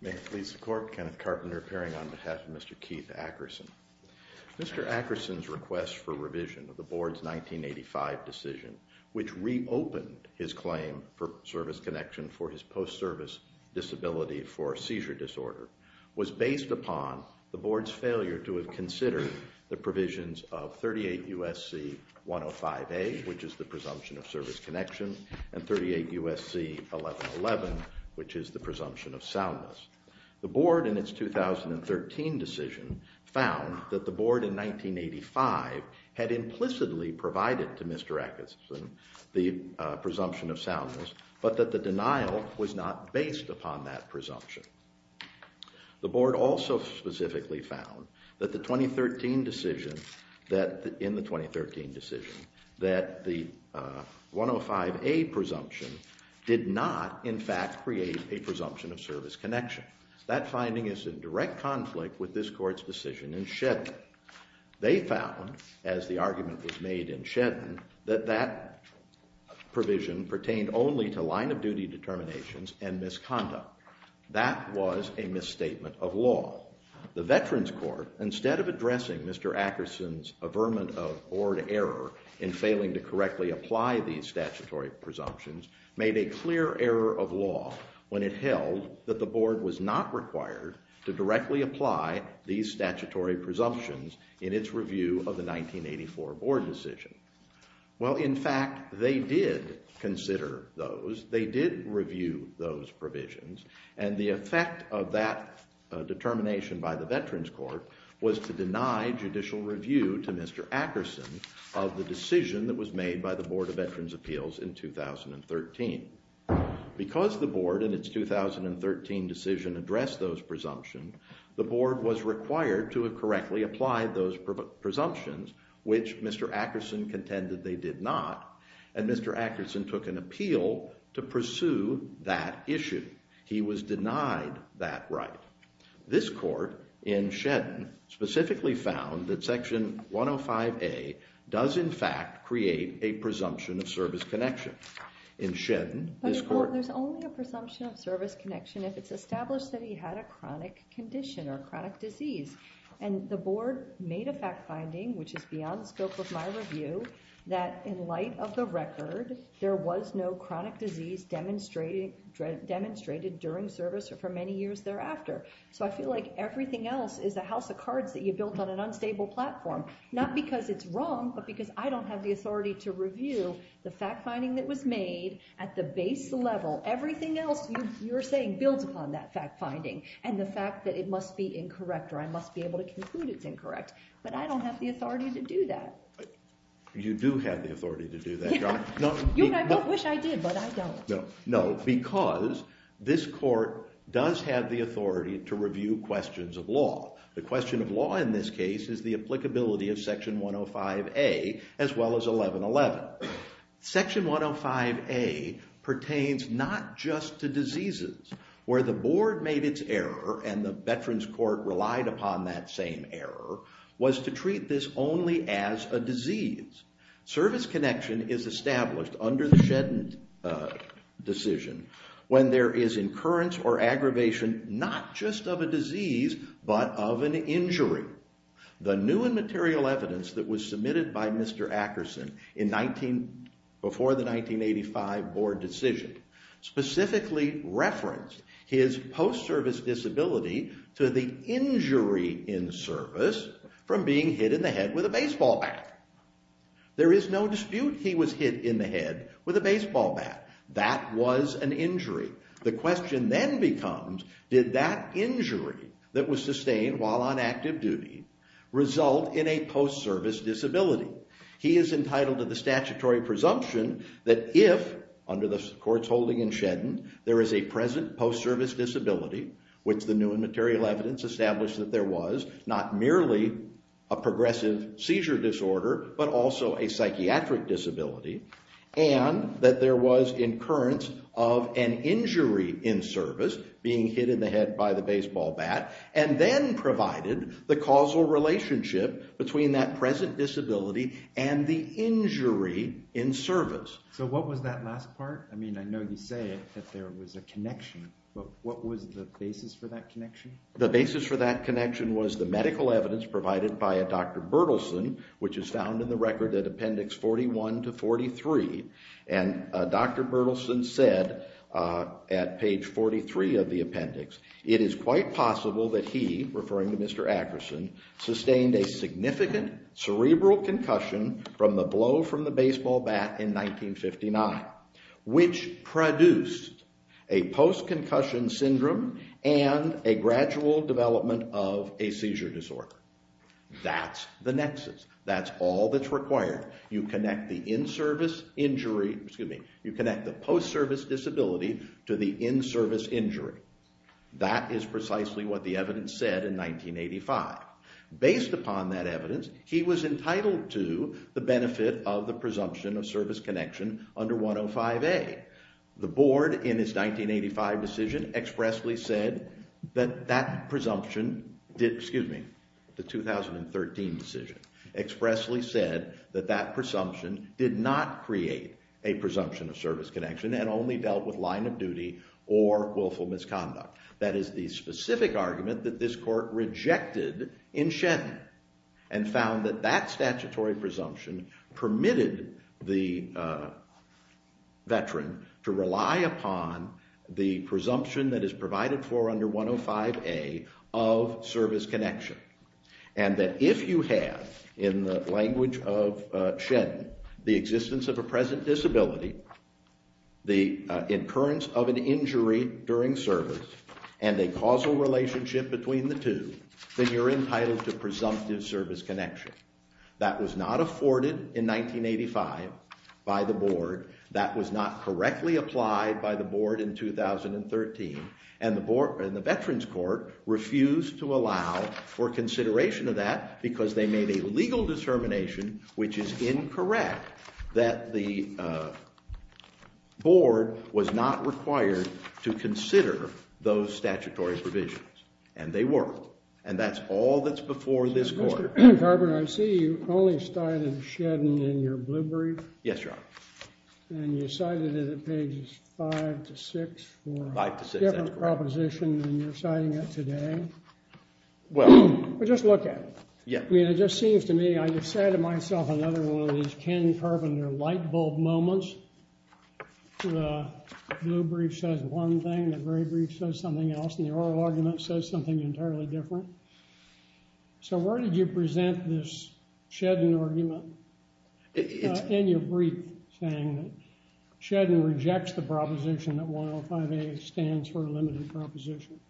May it please the court, Kenneth Carpenter appearing on behalf of Mr. Keith Ackerson. Mr. Ackerson's request for revision of the board's 1985 decision, which reopened his claim for service connection for his post-service disability for seizure disorder, was based upon the board's failure to have considered the provisions of 38 U.S.C. 105A, which is the presumption of service connection, and 38 U.S.C. 1111, which is the presumption of soundness. The board in its 2013 decision found that the board in 1985 had implicitly provided to Mr. Ackerson the presumption of soundness, but that the denial was not based upon that presumption. The board also specifically found in the 2013 decision that the 105A presumption did not in fact create a presumption of service connection. That finding is in direct conflict with this court's decision in Shedden. They found, as the argument was made in Shedden, that that provision pertained only to line-of-duty determinations and misconduct. That was a misstatement of law. The Veterans Court, instead of addressing Mr. Ackerson's averment of board error in failing to correctly apply these statutory presumptions, made a clear error of law when it held that the board was not required to directly apply these statutory presumptions in its review of the 1984 board decision. Well, in fact, they did consider those. They did review those provisions, and the effect of that determination by the Veterans Court was to deny judicial review to Mr. Ackerson of the decision that was made by the Board of Veterans Appeals in 2013. Because the board in its 2013 decision addressed those presumptions, the board was required to have correctly applied those presumptions, which Mr. Ackerson contended they did not, and Mr. Ackerson took an appeal to pursue that issue. He was denied that right. This court in Shedden specifically found that Section 105A does in fact create a presumption of service connection. In Shedden, this court... And the board made a fact finding, which is beyond the scope of my review, that in light of the record, there was no chronic disease demonstrated during service or for many years thereafter. So I feel like everything else is a house of cards that you built on an unstable platform, not because it's wrong, but because I don't have the authority to review the fact finding that was made at the base level. Everything else you're saying builds upon that fact finding, and the fact that it must be incorrect, or I must be able to conclude it's incorrect. But I don't have the authority to do that. You do have the authority to do that, Your Honor. You and I both wish I did, but I don't. No, because this court does have the authority to review questions of law. The question of law in this case is the applicability of Section 105A, as well as 1111. Section 105A pertains not just to diseases, where the board made its error, and the Veterans Court relied upon that same error, was to treat this only as a disease. Service connection is established under the Shedden decision when there is incurrence or aggravation not just of a disease, but of an injury. The new and material evidence that was submitted by Mr. Akerson before the 1985 board decision specifically referenced his post-service disability to the injury in service from being hit in the head with a baseball bat. There is no dispute he was hit in the head with a baseball bat. That was an injury. The question then becomes, did that injury that was sustained while on active duty result in a post-service disability? He is entitled to the statutory presumption that if, under the court's holding in Shedden, there is a present post-service disability, which the new and material evidence established that there was, not merely a progressive seizure disorder, but also a psychiatric disability, and that there was incurrence of an injury in service, being hit in the head by the baseball bat, and then provided the causal relationship between that present disability and the injury in service. So what was that last part? I mean, I know you say that there was a connection, but what was the basis for that connection? The basis for that connection was the medical evidence provided by a Dr. Berthelsen, which is found in the record at Appendix 41 to 43. And Dr. Berthelsen said at page 43 of the record, there was a significant cerebral concussion from the blow from the baseball bat in 1959, which produced a post-concussion syndrome and a gradual development of a seizure disorder. That's the nexus. That's all that's required. You connect the in-service injury, excuse me, you connect the post-service disability to the in-service injury. That is precisely what the evidence said in 1985. Based upon that evidence, he was entitled to the benefit of the presumption of service connection under 105A. The board, in its 1985 decision, expressly said that that presumption, excuse me, the 2013 decision, expressly said that that presumption did not create a presumption of service connection and only dealt with line of duty or willful misconduct. That is the specific argument that this court rejected in Sheddon and found that that statutory presumption permitted the veteran to rely upon the presumption that is provided for under 105A of service connection. And that if you have, in the language of Sheddon, the existence of a present disability, the occurrence of an injury during service, and a causal relationship between the two, then you're entitled to presumptive service connection. That was not afforded in 1985 by the board. That was not correctly applied by the board in 2013. And the veterans court refused to allow for consideration of that because they made a legal determination, which is incorrect, that the board was not required to consider those statutory provisions. And they weren't. And that's all that's before this court. Mr. Garber, I see you only cited Sheddon in your blue brief. Yes, Your Honor. And you cited it at pages 5 to 6 for a different proposition than you're citing it today. Well... Well, just look at it. Yeah. I mean, it just seems to me, I just cited myself another one of these Ken Carpenter lightbulb moments. The blue brief says one thing, the gray brief says something else, and the oral argument says something entirely different. So where did you present this Sheddon argument in your brief saying that Sheddon rejects the proposition that 105A stands for a limited proposition?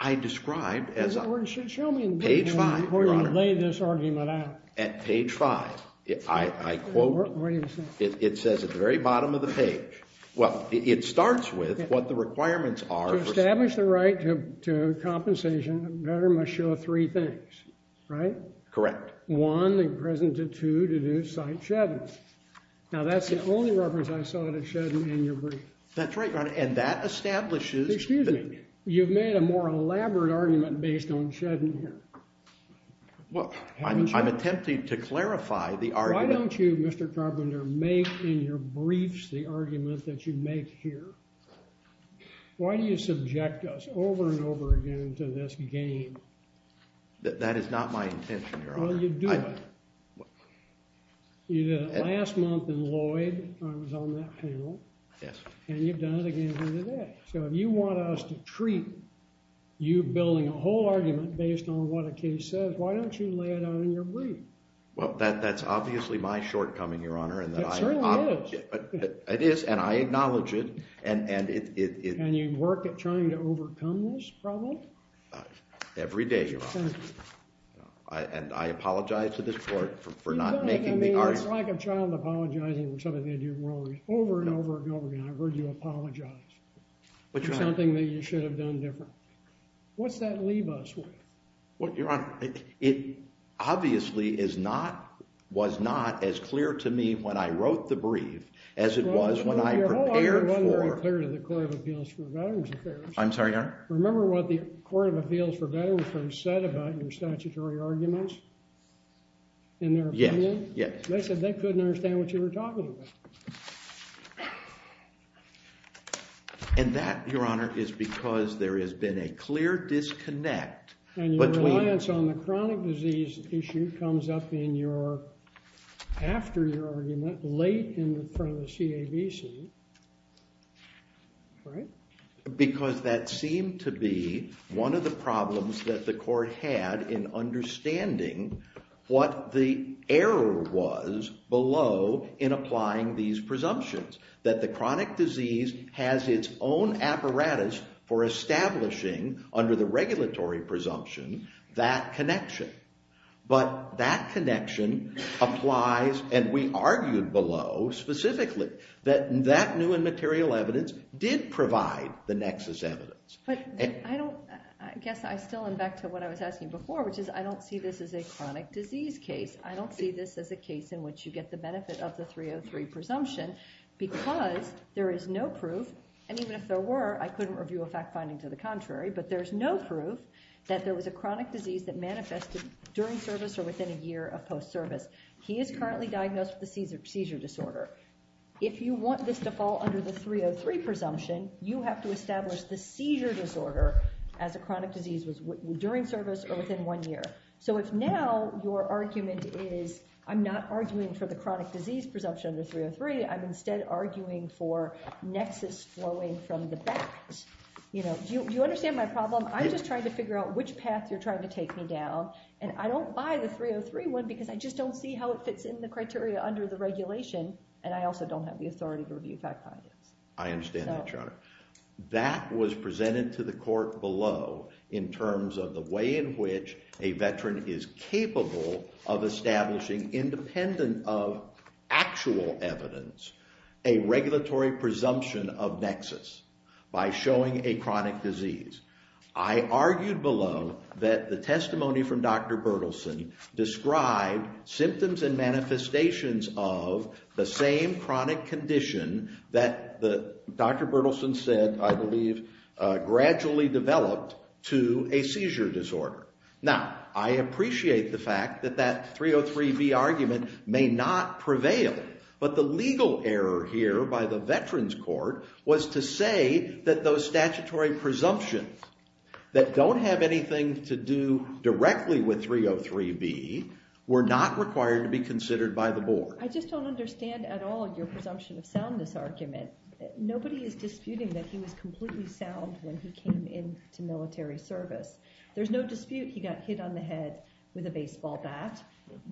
I described as... The board should show me... Page 5, Your Honor. ...before you lay this argument out. At page 5, I quote... What does it say? It says at the very bottom of the page. Well, it starts with what the requirements are... To establish the right to compensation, a veteran must show three things, right? Correct. One, they presented two to do cite Sheddon. Now, that's the only reference I saw to Sheddon in your brief. That's right, Your Honor. And that establishes... You've made a more elaborate argument based on Sheddon here. Well, I'm attempting to clarify the argument... Why don't you, Mr. Carpenter, make in your briefs the argument that you make here? Why do you subject us over and over again to this game? That is not my intention, Your Honor. Well, you do it. You did it last month in Lloyd. I was on that panel. Yes. And you've done it again here today. So if you want us to treat you building a whole argument based on what a case says, why don't you lay it out in your brief? Well, that's obviously my shortcoming, Your Honor. It certainly is. It is, and I acknowledge it. And you work at trying to overcome this problem? Every day, Your Honor. And I apologize to this Court for not making the argument... ...for something that you should have done differently. What's that leave us with? Well, Your Honor, it obviously was not as clear to me when I wrote the brief as it was when I prepared for... Well, Your Honor, it wasn't very clear to the Court of Appeals for Veterans Affairs. I'm sorry, Your Honor? Remember what the Court of Appeals for Veterans Affairs said about your statutory arguments? In their opinion? Yes, yes. They said they couldn't understand what you were talking about. And that, Your Honor, is because there has been a clear disconnect between... And your reliance on the chronic disease issue comes up in your... after your argument, late in front of the CABC, right? Because that seemed to be one of the problems that the Court had in understanding what the error was below in applying these presumptions. That the chronic disease has its own apparatus for establishing, under the regulatory presumption, that connection. But that connection applies, and we argued below specifically, that that new and material evidence did provide the nexus evidence. But I don't... I guess I still am back to what I was asking before, which is I don't see this as a chronic disease case. I don't see this as a case in which you get the benefit of the 303 presumption because there is no proof, and even if there were, I couldn't review a fact-finding to the contrary, but there's no proof that there was a chronic disease that manifested during service or within a year of post-service. He is currently diagnosed with a seizure disorder. If you want this to fall under the 303 presumption, you have to establish the seizure disorder as a chronic disease was during service or within one year. So if now your argument is, I'm not arguing for the chronic disease presumption under 303, I'm instead arguing for nexus flowing from the back. Do you understand my problem? I'm just trying to figure out which path you're trying to take me down, and I don't buy the 303 one because I just don't see how it fits in the criteria under the regulation, and I also don't have the authority to review fact-findings. I understand that, Chandra. That was presented to the court below in terms of the way in which a veteran is capable of establishing independent of actual evidence a regulatory presumption of nexus by showing a chronic disease. I argued below that the testimony from Dr. Bertelsen described symptoms and manifestations of the same chronic condition that Dr. Bertelsen said, I believe, gradually developed to a seizure disorder. Now, I appreciate the fact that that 303B argument may not prevail, but the legal error here by the Veterans Court was to say that those statutory presumptions that don't have anything to do directly with 303B were not required to be considered by the board. I just don't understand at all your presumption of soundness argument. Nobody is disputing that he was completely sound when he came into military service. There's no dispute he got hit on the head with a baseball bat.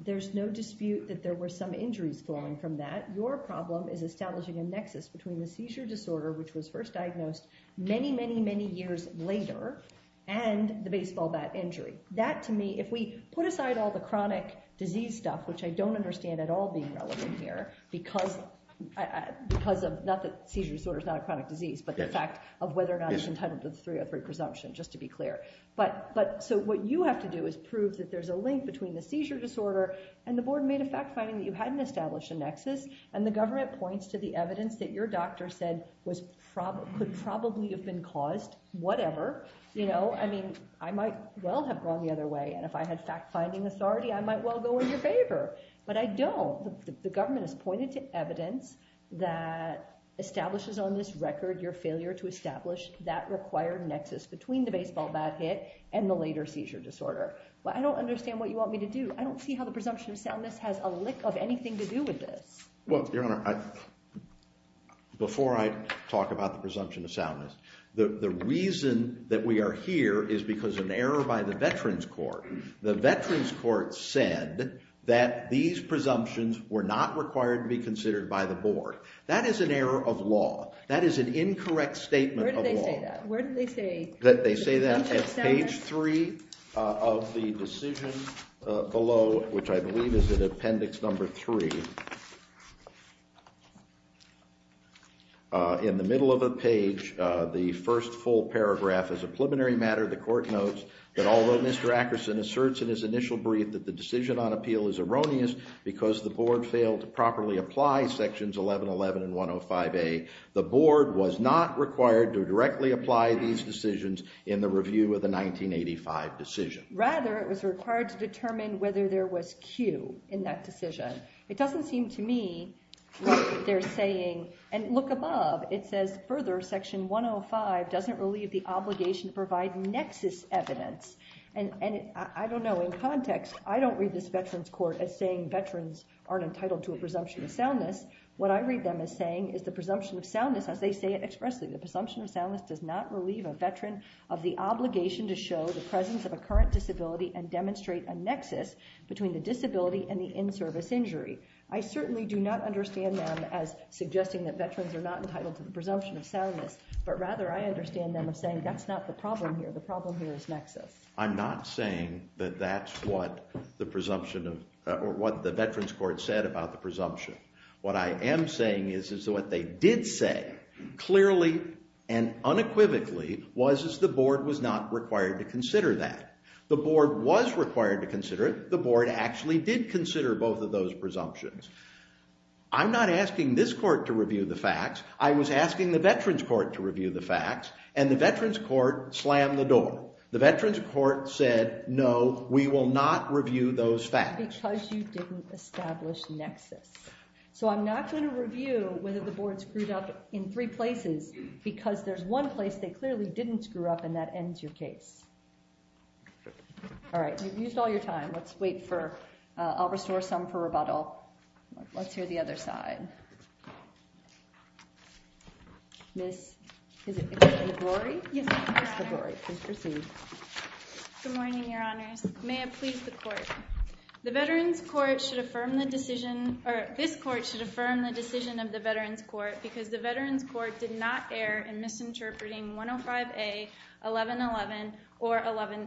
There's no dispute that there were some injuries flowing from that. Your problem is establishing a nexus between the seizure disorder, which was first diagnosed many, many, many years later, and the baseball bat injury. That, to me, if we put aside all the chronic disease stuff, which I don't understand at all being relevant here because of, not that seizure disorder is not a chronic disease, but the fact of whether or not it's entitled to the 303 presumption, just to be clear. So what you have to do is prove that there's a link between the seizure disorder and the board made a fact-finding that you hadn't established a nexus, and the government points to the evidence that your doctor said could probably have been caused, whatever. I mean, I might well have gone the other way, and if I had fact-finding authority, I might well go in your favor. But I don't. The government has pointed to evidence that establishes on this record your failure to establish that required nexus between the baseball bat hit and the later seizure disorder. I don't understand what you want me to do. I don't see how the presumption of soundness has a lick of anything to do with this. Well, Your Honor, before I talk about the presumption of soundness, the reason that we are here is because of an error by the Veterans Court. The Veterans Court said that these presumptions were not required to be considered by the board. That is an error of law. That is an incorrect statement of law. Where did they say that? They say that at page 3 of the decision below, which I believe is in Appendix No. 3. In the middle of the page, the first full paragraph is a preliminary matter. The court notes that although Mr. Akerson asserts in his initial brief that the decision on appeal is erroneous because the board failed to properly apply sections 1111 and 105A, the board was not required to directly apply these decisions in the review of the 1985 decision. Rather, it was required to determine whether there was cue in that decision. It doesn't seem to me what they're saying. And look above. It says, further, section 105 doesn't relieve the obligation to provide nexus evidence. And I don't know. In context, I don't read this Veterans Court as saying veterans aren't entitled to a presumption of soundness. What I read them as saying is the presumption of soundness as they say it expressly. The presumption of soundness does not relieve a veteran of the obligation to show the presence of a current disability and demonstrate a nexus between the disability and the in-service injury. I certainly do not understand them as suggesting that veterans are not entitled to the presumption of soundness. But rather, I understand them as saying that's not the problem here. The problem here is nexus. I'm not saying that that's what the Veterans Court said about the presumption. What I am saying is that what they did say clearly and unequivocally was that the board was not required to consider that. The board was required to consider it. The board actually did consider both of those presumptions. I'm not asking this court to review the facts. I was asking the Veterans Court to review the facts. And the Veterans Court slammed the door. The Veterans Court said, no, we will not review those facts. Because you didn't establish nexus. So I'm not going to review whether the board screwed up in three places because there's one place they clearly didn't screw up and that ends your case. Alright, you've used all your time. Let's wait for, I'll restore some for rebuttal. Let's hear the other side. Miss, is it Ms. LaGlory? Yes, I am. Good morning, Your Honors. May it please the Court. The Veterans Court should affirm the decision or this Court should affirm the decision of the Veterans Court because the Veterans Court did not err in misinterpreting 105A, 1111, or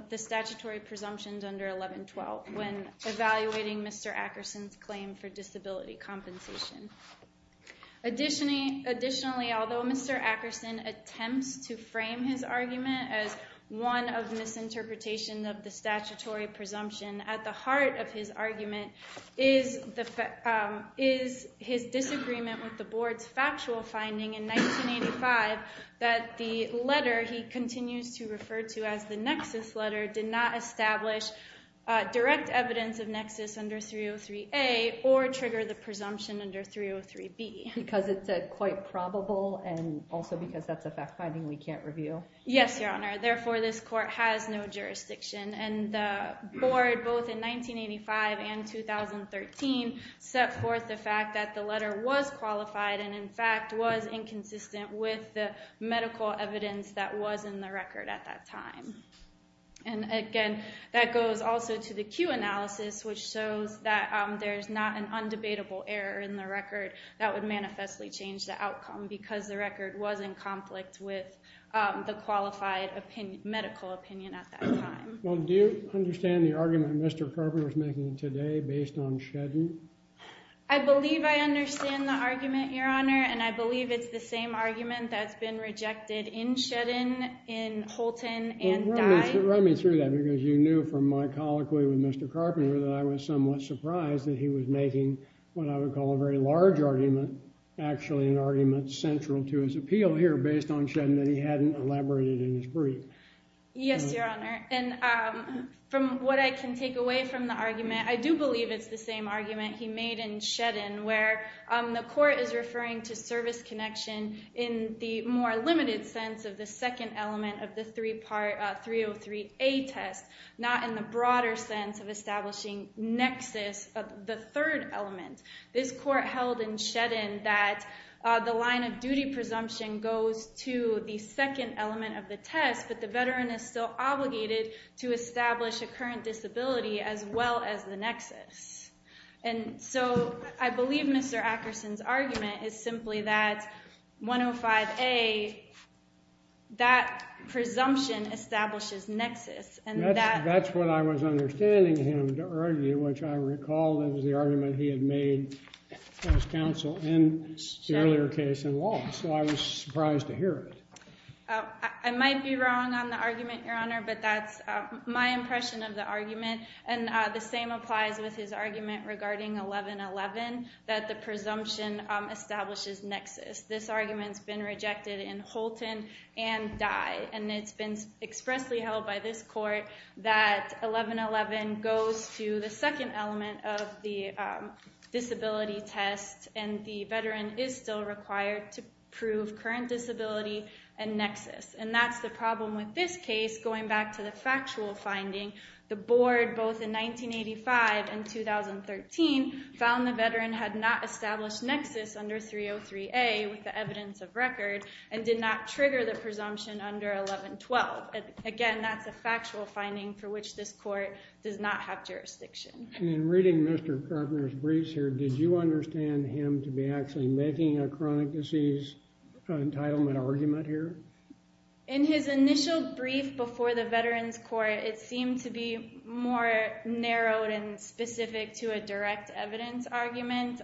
the statutory presumptions under 1112 when evaluating Mr. Ackerson's claim for disability compensation. Additionally, although Mr. Ackerson attempts to frame his argument as one of misinterpretation of the statutory presumption, at the heart of his argument is his disagreement with the board's factual finding in 1985 that the letter he continues to refer to as the nexus letter did not establish direct evidence of nexus under 303A or trigger the presumption under 303B. Because it said quite probable and also because that's a fact finding we can't review? Yes, Your Honor. Therefore, this Court has no jurisdiction and the board, both in 1985 and 2013 set forth the fact that the letter was qualified and, in fact, was inconsistent with the medical evidence that was in the record at that time. Again, that goes also to the Q analysis which shows that there's not an undebatable error in the record that would manifestly change the outcome because the record was in conflict with the qualified medical opinion at that time. Do you understand the argument Mr. Carpenter is making today based on shedding? I believe I understand the argument, Your Honor, and I believe it's the same argument that's been rejected in shedding in Holton and Dye. Run me through that because you knew from my colloquy with Mr. Carpenter that I was somewhat surprised that he was making what I would call a very large argument, actually an argument central to his appeal here based on shedding that he hadn't elaborated in his brief. Yes, Your Honor. From what I can take away from the argument, I do believe it's the same argument he made in shedding where the court is referring to service connection in the more limited sense of the second element of the 303A test, not in the broader sense of establishing nexus of the third element. This court held in shedding that the line of duty presumption goes to the second element of the test, but the veteran is still obligated to establish a current disability as well as the nexus. And so I believe Mr. Akerson's argument is simply that 105A that presumption establishes nexus and that That's what I was understanding him to argue, which I recall that was the argument he had made in his counsel in the earlier case in law, so I was surprised to hear it. I might be wrong on the argument, Your Honor, but that's my impression of the argument and the same applies with his argument regarding 1111 that the presumption establishes nexus. This argument's been rejected in Holton and Dye and it's been expressly held by this court that 1111 goes to the second element of the disability test and the veteran is still required to prove current disability and nexus. And that's the problem with this case, going back to the factual finding, the board, both in 1985 and 2013 found the veteran had not established nexus under 303A with the evidence of record and did not trigger the presumption under 1112. Again, that's a factual finding for which this court does not have jurisdiction. In reading Mr. Carpenter's briefs here, did you understand him to be actually making a chronic disease entitlement argument here? In his initial brief before the veterans court, it seemed to be more narrowed and specific to a direct evidence argument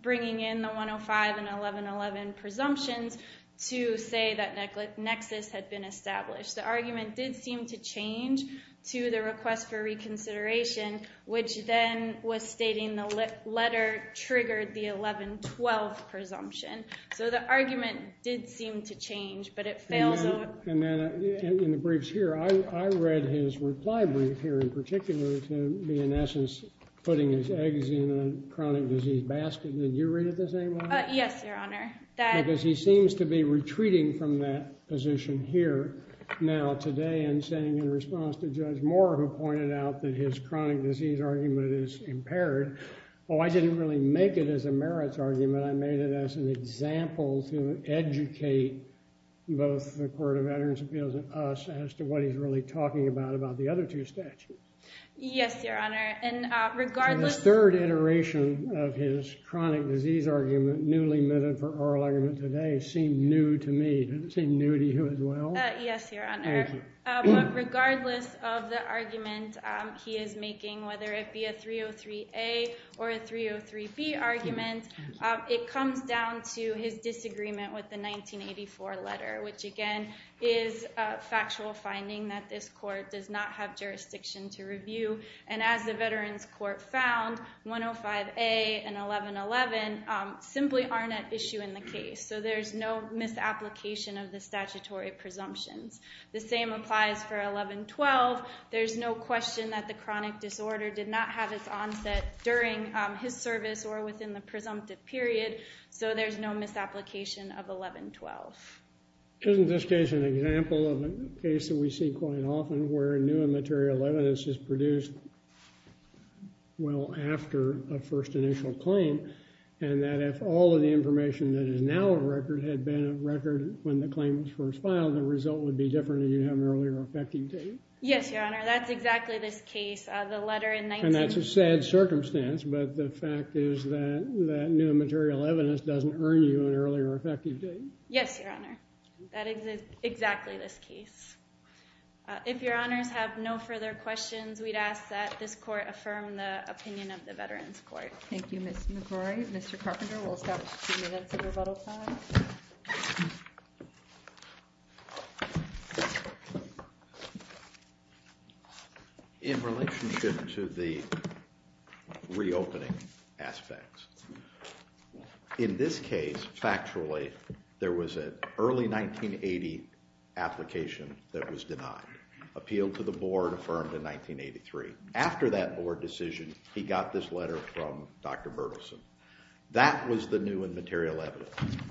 bringing in the 105 and 1111 presumptions to say that nexus had been established. The argument did seem to change to the request for reconsideration which then was stating the letter triggered the 1112 presumption. So the argument did seem to change. In the briefs here, I read his reply brief here in particular to in essence putting his eggs in a chronic disease basket. Did you read it the same way? Yes, Your Honor. Because he seems to be retreating from that position here now today and saying in response to Judge Moore who pointed out that his chronic disease argument is impaired, oh I didn't really make it as a merits argument, I made it as an example to educate both the Court of Veterans Appeals and us as to what he's really talking about about the other two statutes. Yes, Your Honor. And regardless... So this third iteration of his chronic disease argument, newly minted for oral argument today, seemed new to me. Did it seem new to you as well? Yes, Your Honor. But regardless of the argument he is making, whether it be a 303A or a 303B argument, it comes down to his disagreement with the 1984 letter, which again is a factual finding that this court does not have jurisdiction to review. And as the Veterans Court found, 105A and 1111 simply aren't at issue in the case. So there's no misapplication of the statutory presumptions. The same applies for 1112. There's no question that the chronic disorder did not have its onset during his service or within the presumptive period. So there's no misapplication of 1112. Isn't this case an example of a case that we see quite often where new and material evidence is produced well after a first initial claim, and that if all of the information that is now a record had been a record when the claim was first filed, the result would be different if you had an earlier effective date. Yes, Your Honor. That's exactly this case. And that's a sad circumstance, but the fact is that new and material evidence doesn't earn you an earlier effective date. Yes, Your Honor. That is exactly this case. If Your Honors have no further questions, we'd ask that this court affirm the opinion of the Veterans Court. Thank you, Ms. McGrory. Mr. Carpenter, we'll stop for two minutes of rebuttal time. Thank you, Your Honor. In relationship to the reopening aspects, in this case, factually, there was an early 1980 application that was denied, appealed to the board, affirmed in 1983. After that board decision, he got this letter from Dr. Berthelsen. That was the new and material evidence.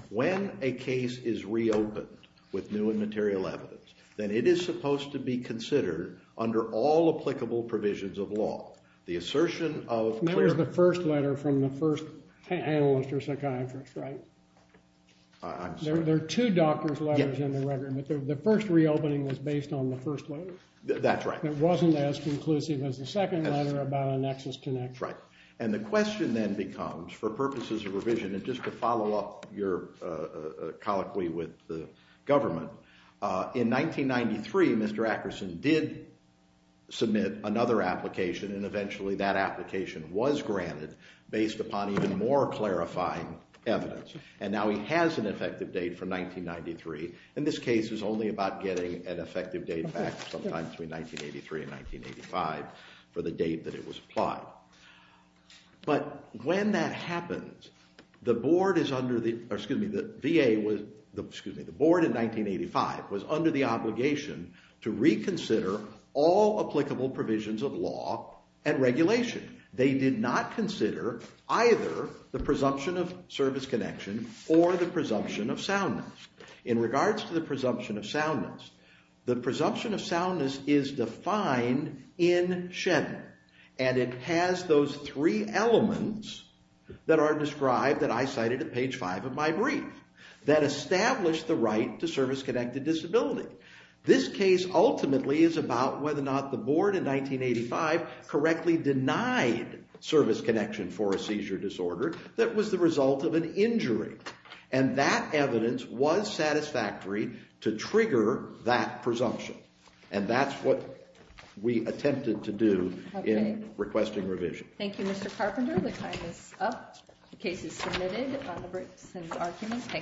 When a case is reopened with new and material evidence, then it is supposed to be considered under all applicable provisions of law. The assertion of clear... And that was the first letter from the first analyst or psychiatrist, right? I'm sorry. There are two doctor's letters in the record, but the first reopening was based on the first letter. That's right. It wasn't as conclusive as the second letter about a nexus connection. Right. And the question then becomes, for purposes of revision, and just to follow up your colloquy with the government, in 1993, Mr. Akerson did submit another application, and eventually that application was granted based upon even more clarifying evidence. And now he has an effective date for 1993. In this case, it was only about getting an effective date back sometime between 1983 and 1985 for the date that it was applied. But when that happens, the board is under the... Excuse me, the VA was... Excuse me, the board in 1985 was under the obligation to reconsider all applicable provisions of law and regulation. They did not consider either the presumption of service connection or the presumption of soundness. In regards to the presumption of soundness, the presumption of soundness is defined in as those three elements that are described that I cited at page 5 of my brief, that establish the right to service connected disability. This case ultimately is about whether or not the board in 1985 correctly denied service connection for a seizure disorder that was the result of an injury. And that evidence was satisfactory to trigger that presumption. And that's what we attempted to do in requesting revision. Thank you, Mr. Carpenter. The time is up. The case is submitted. Thank you.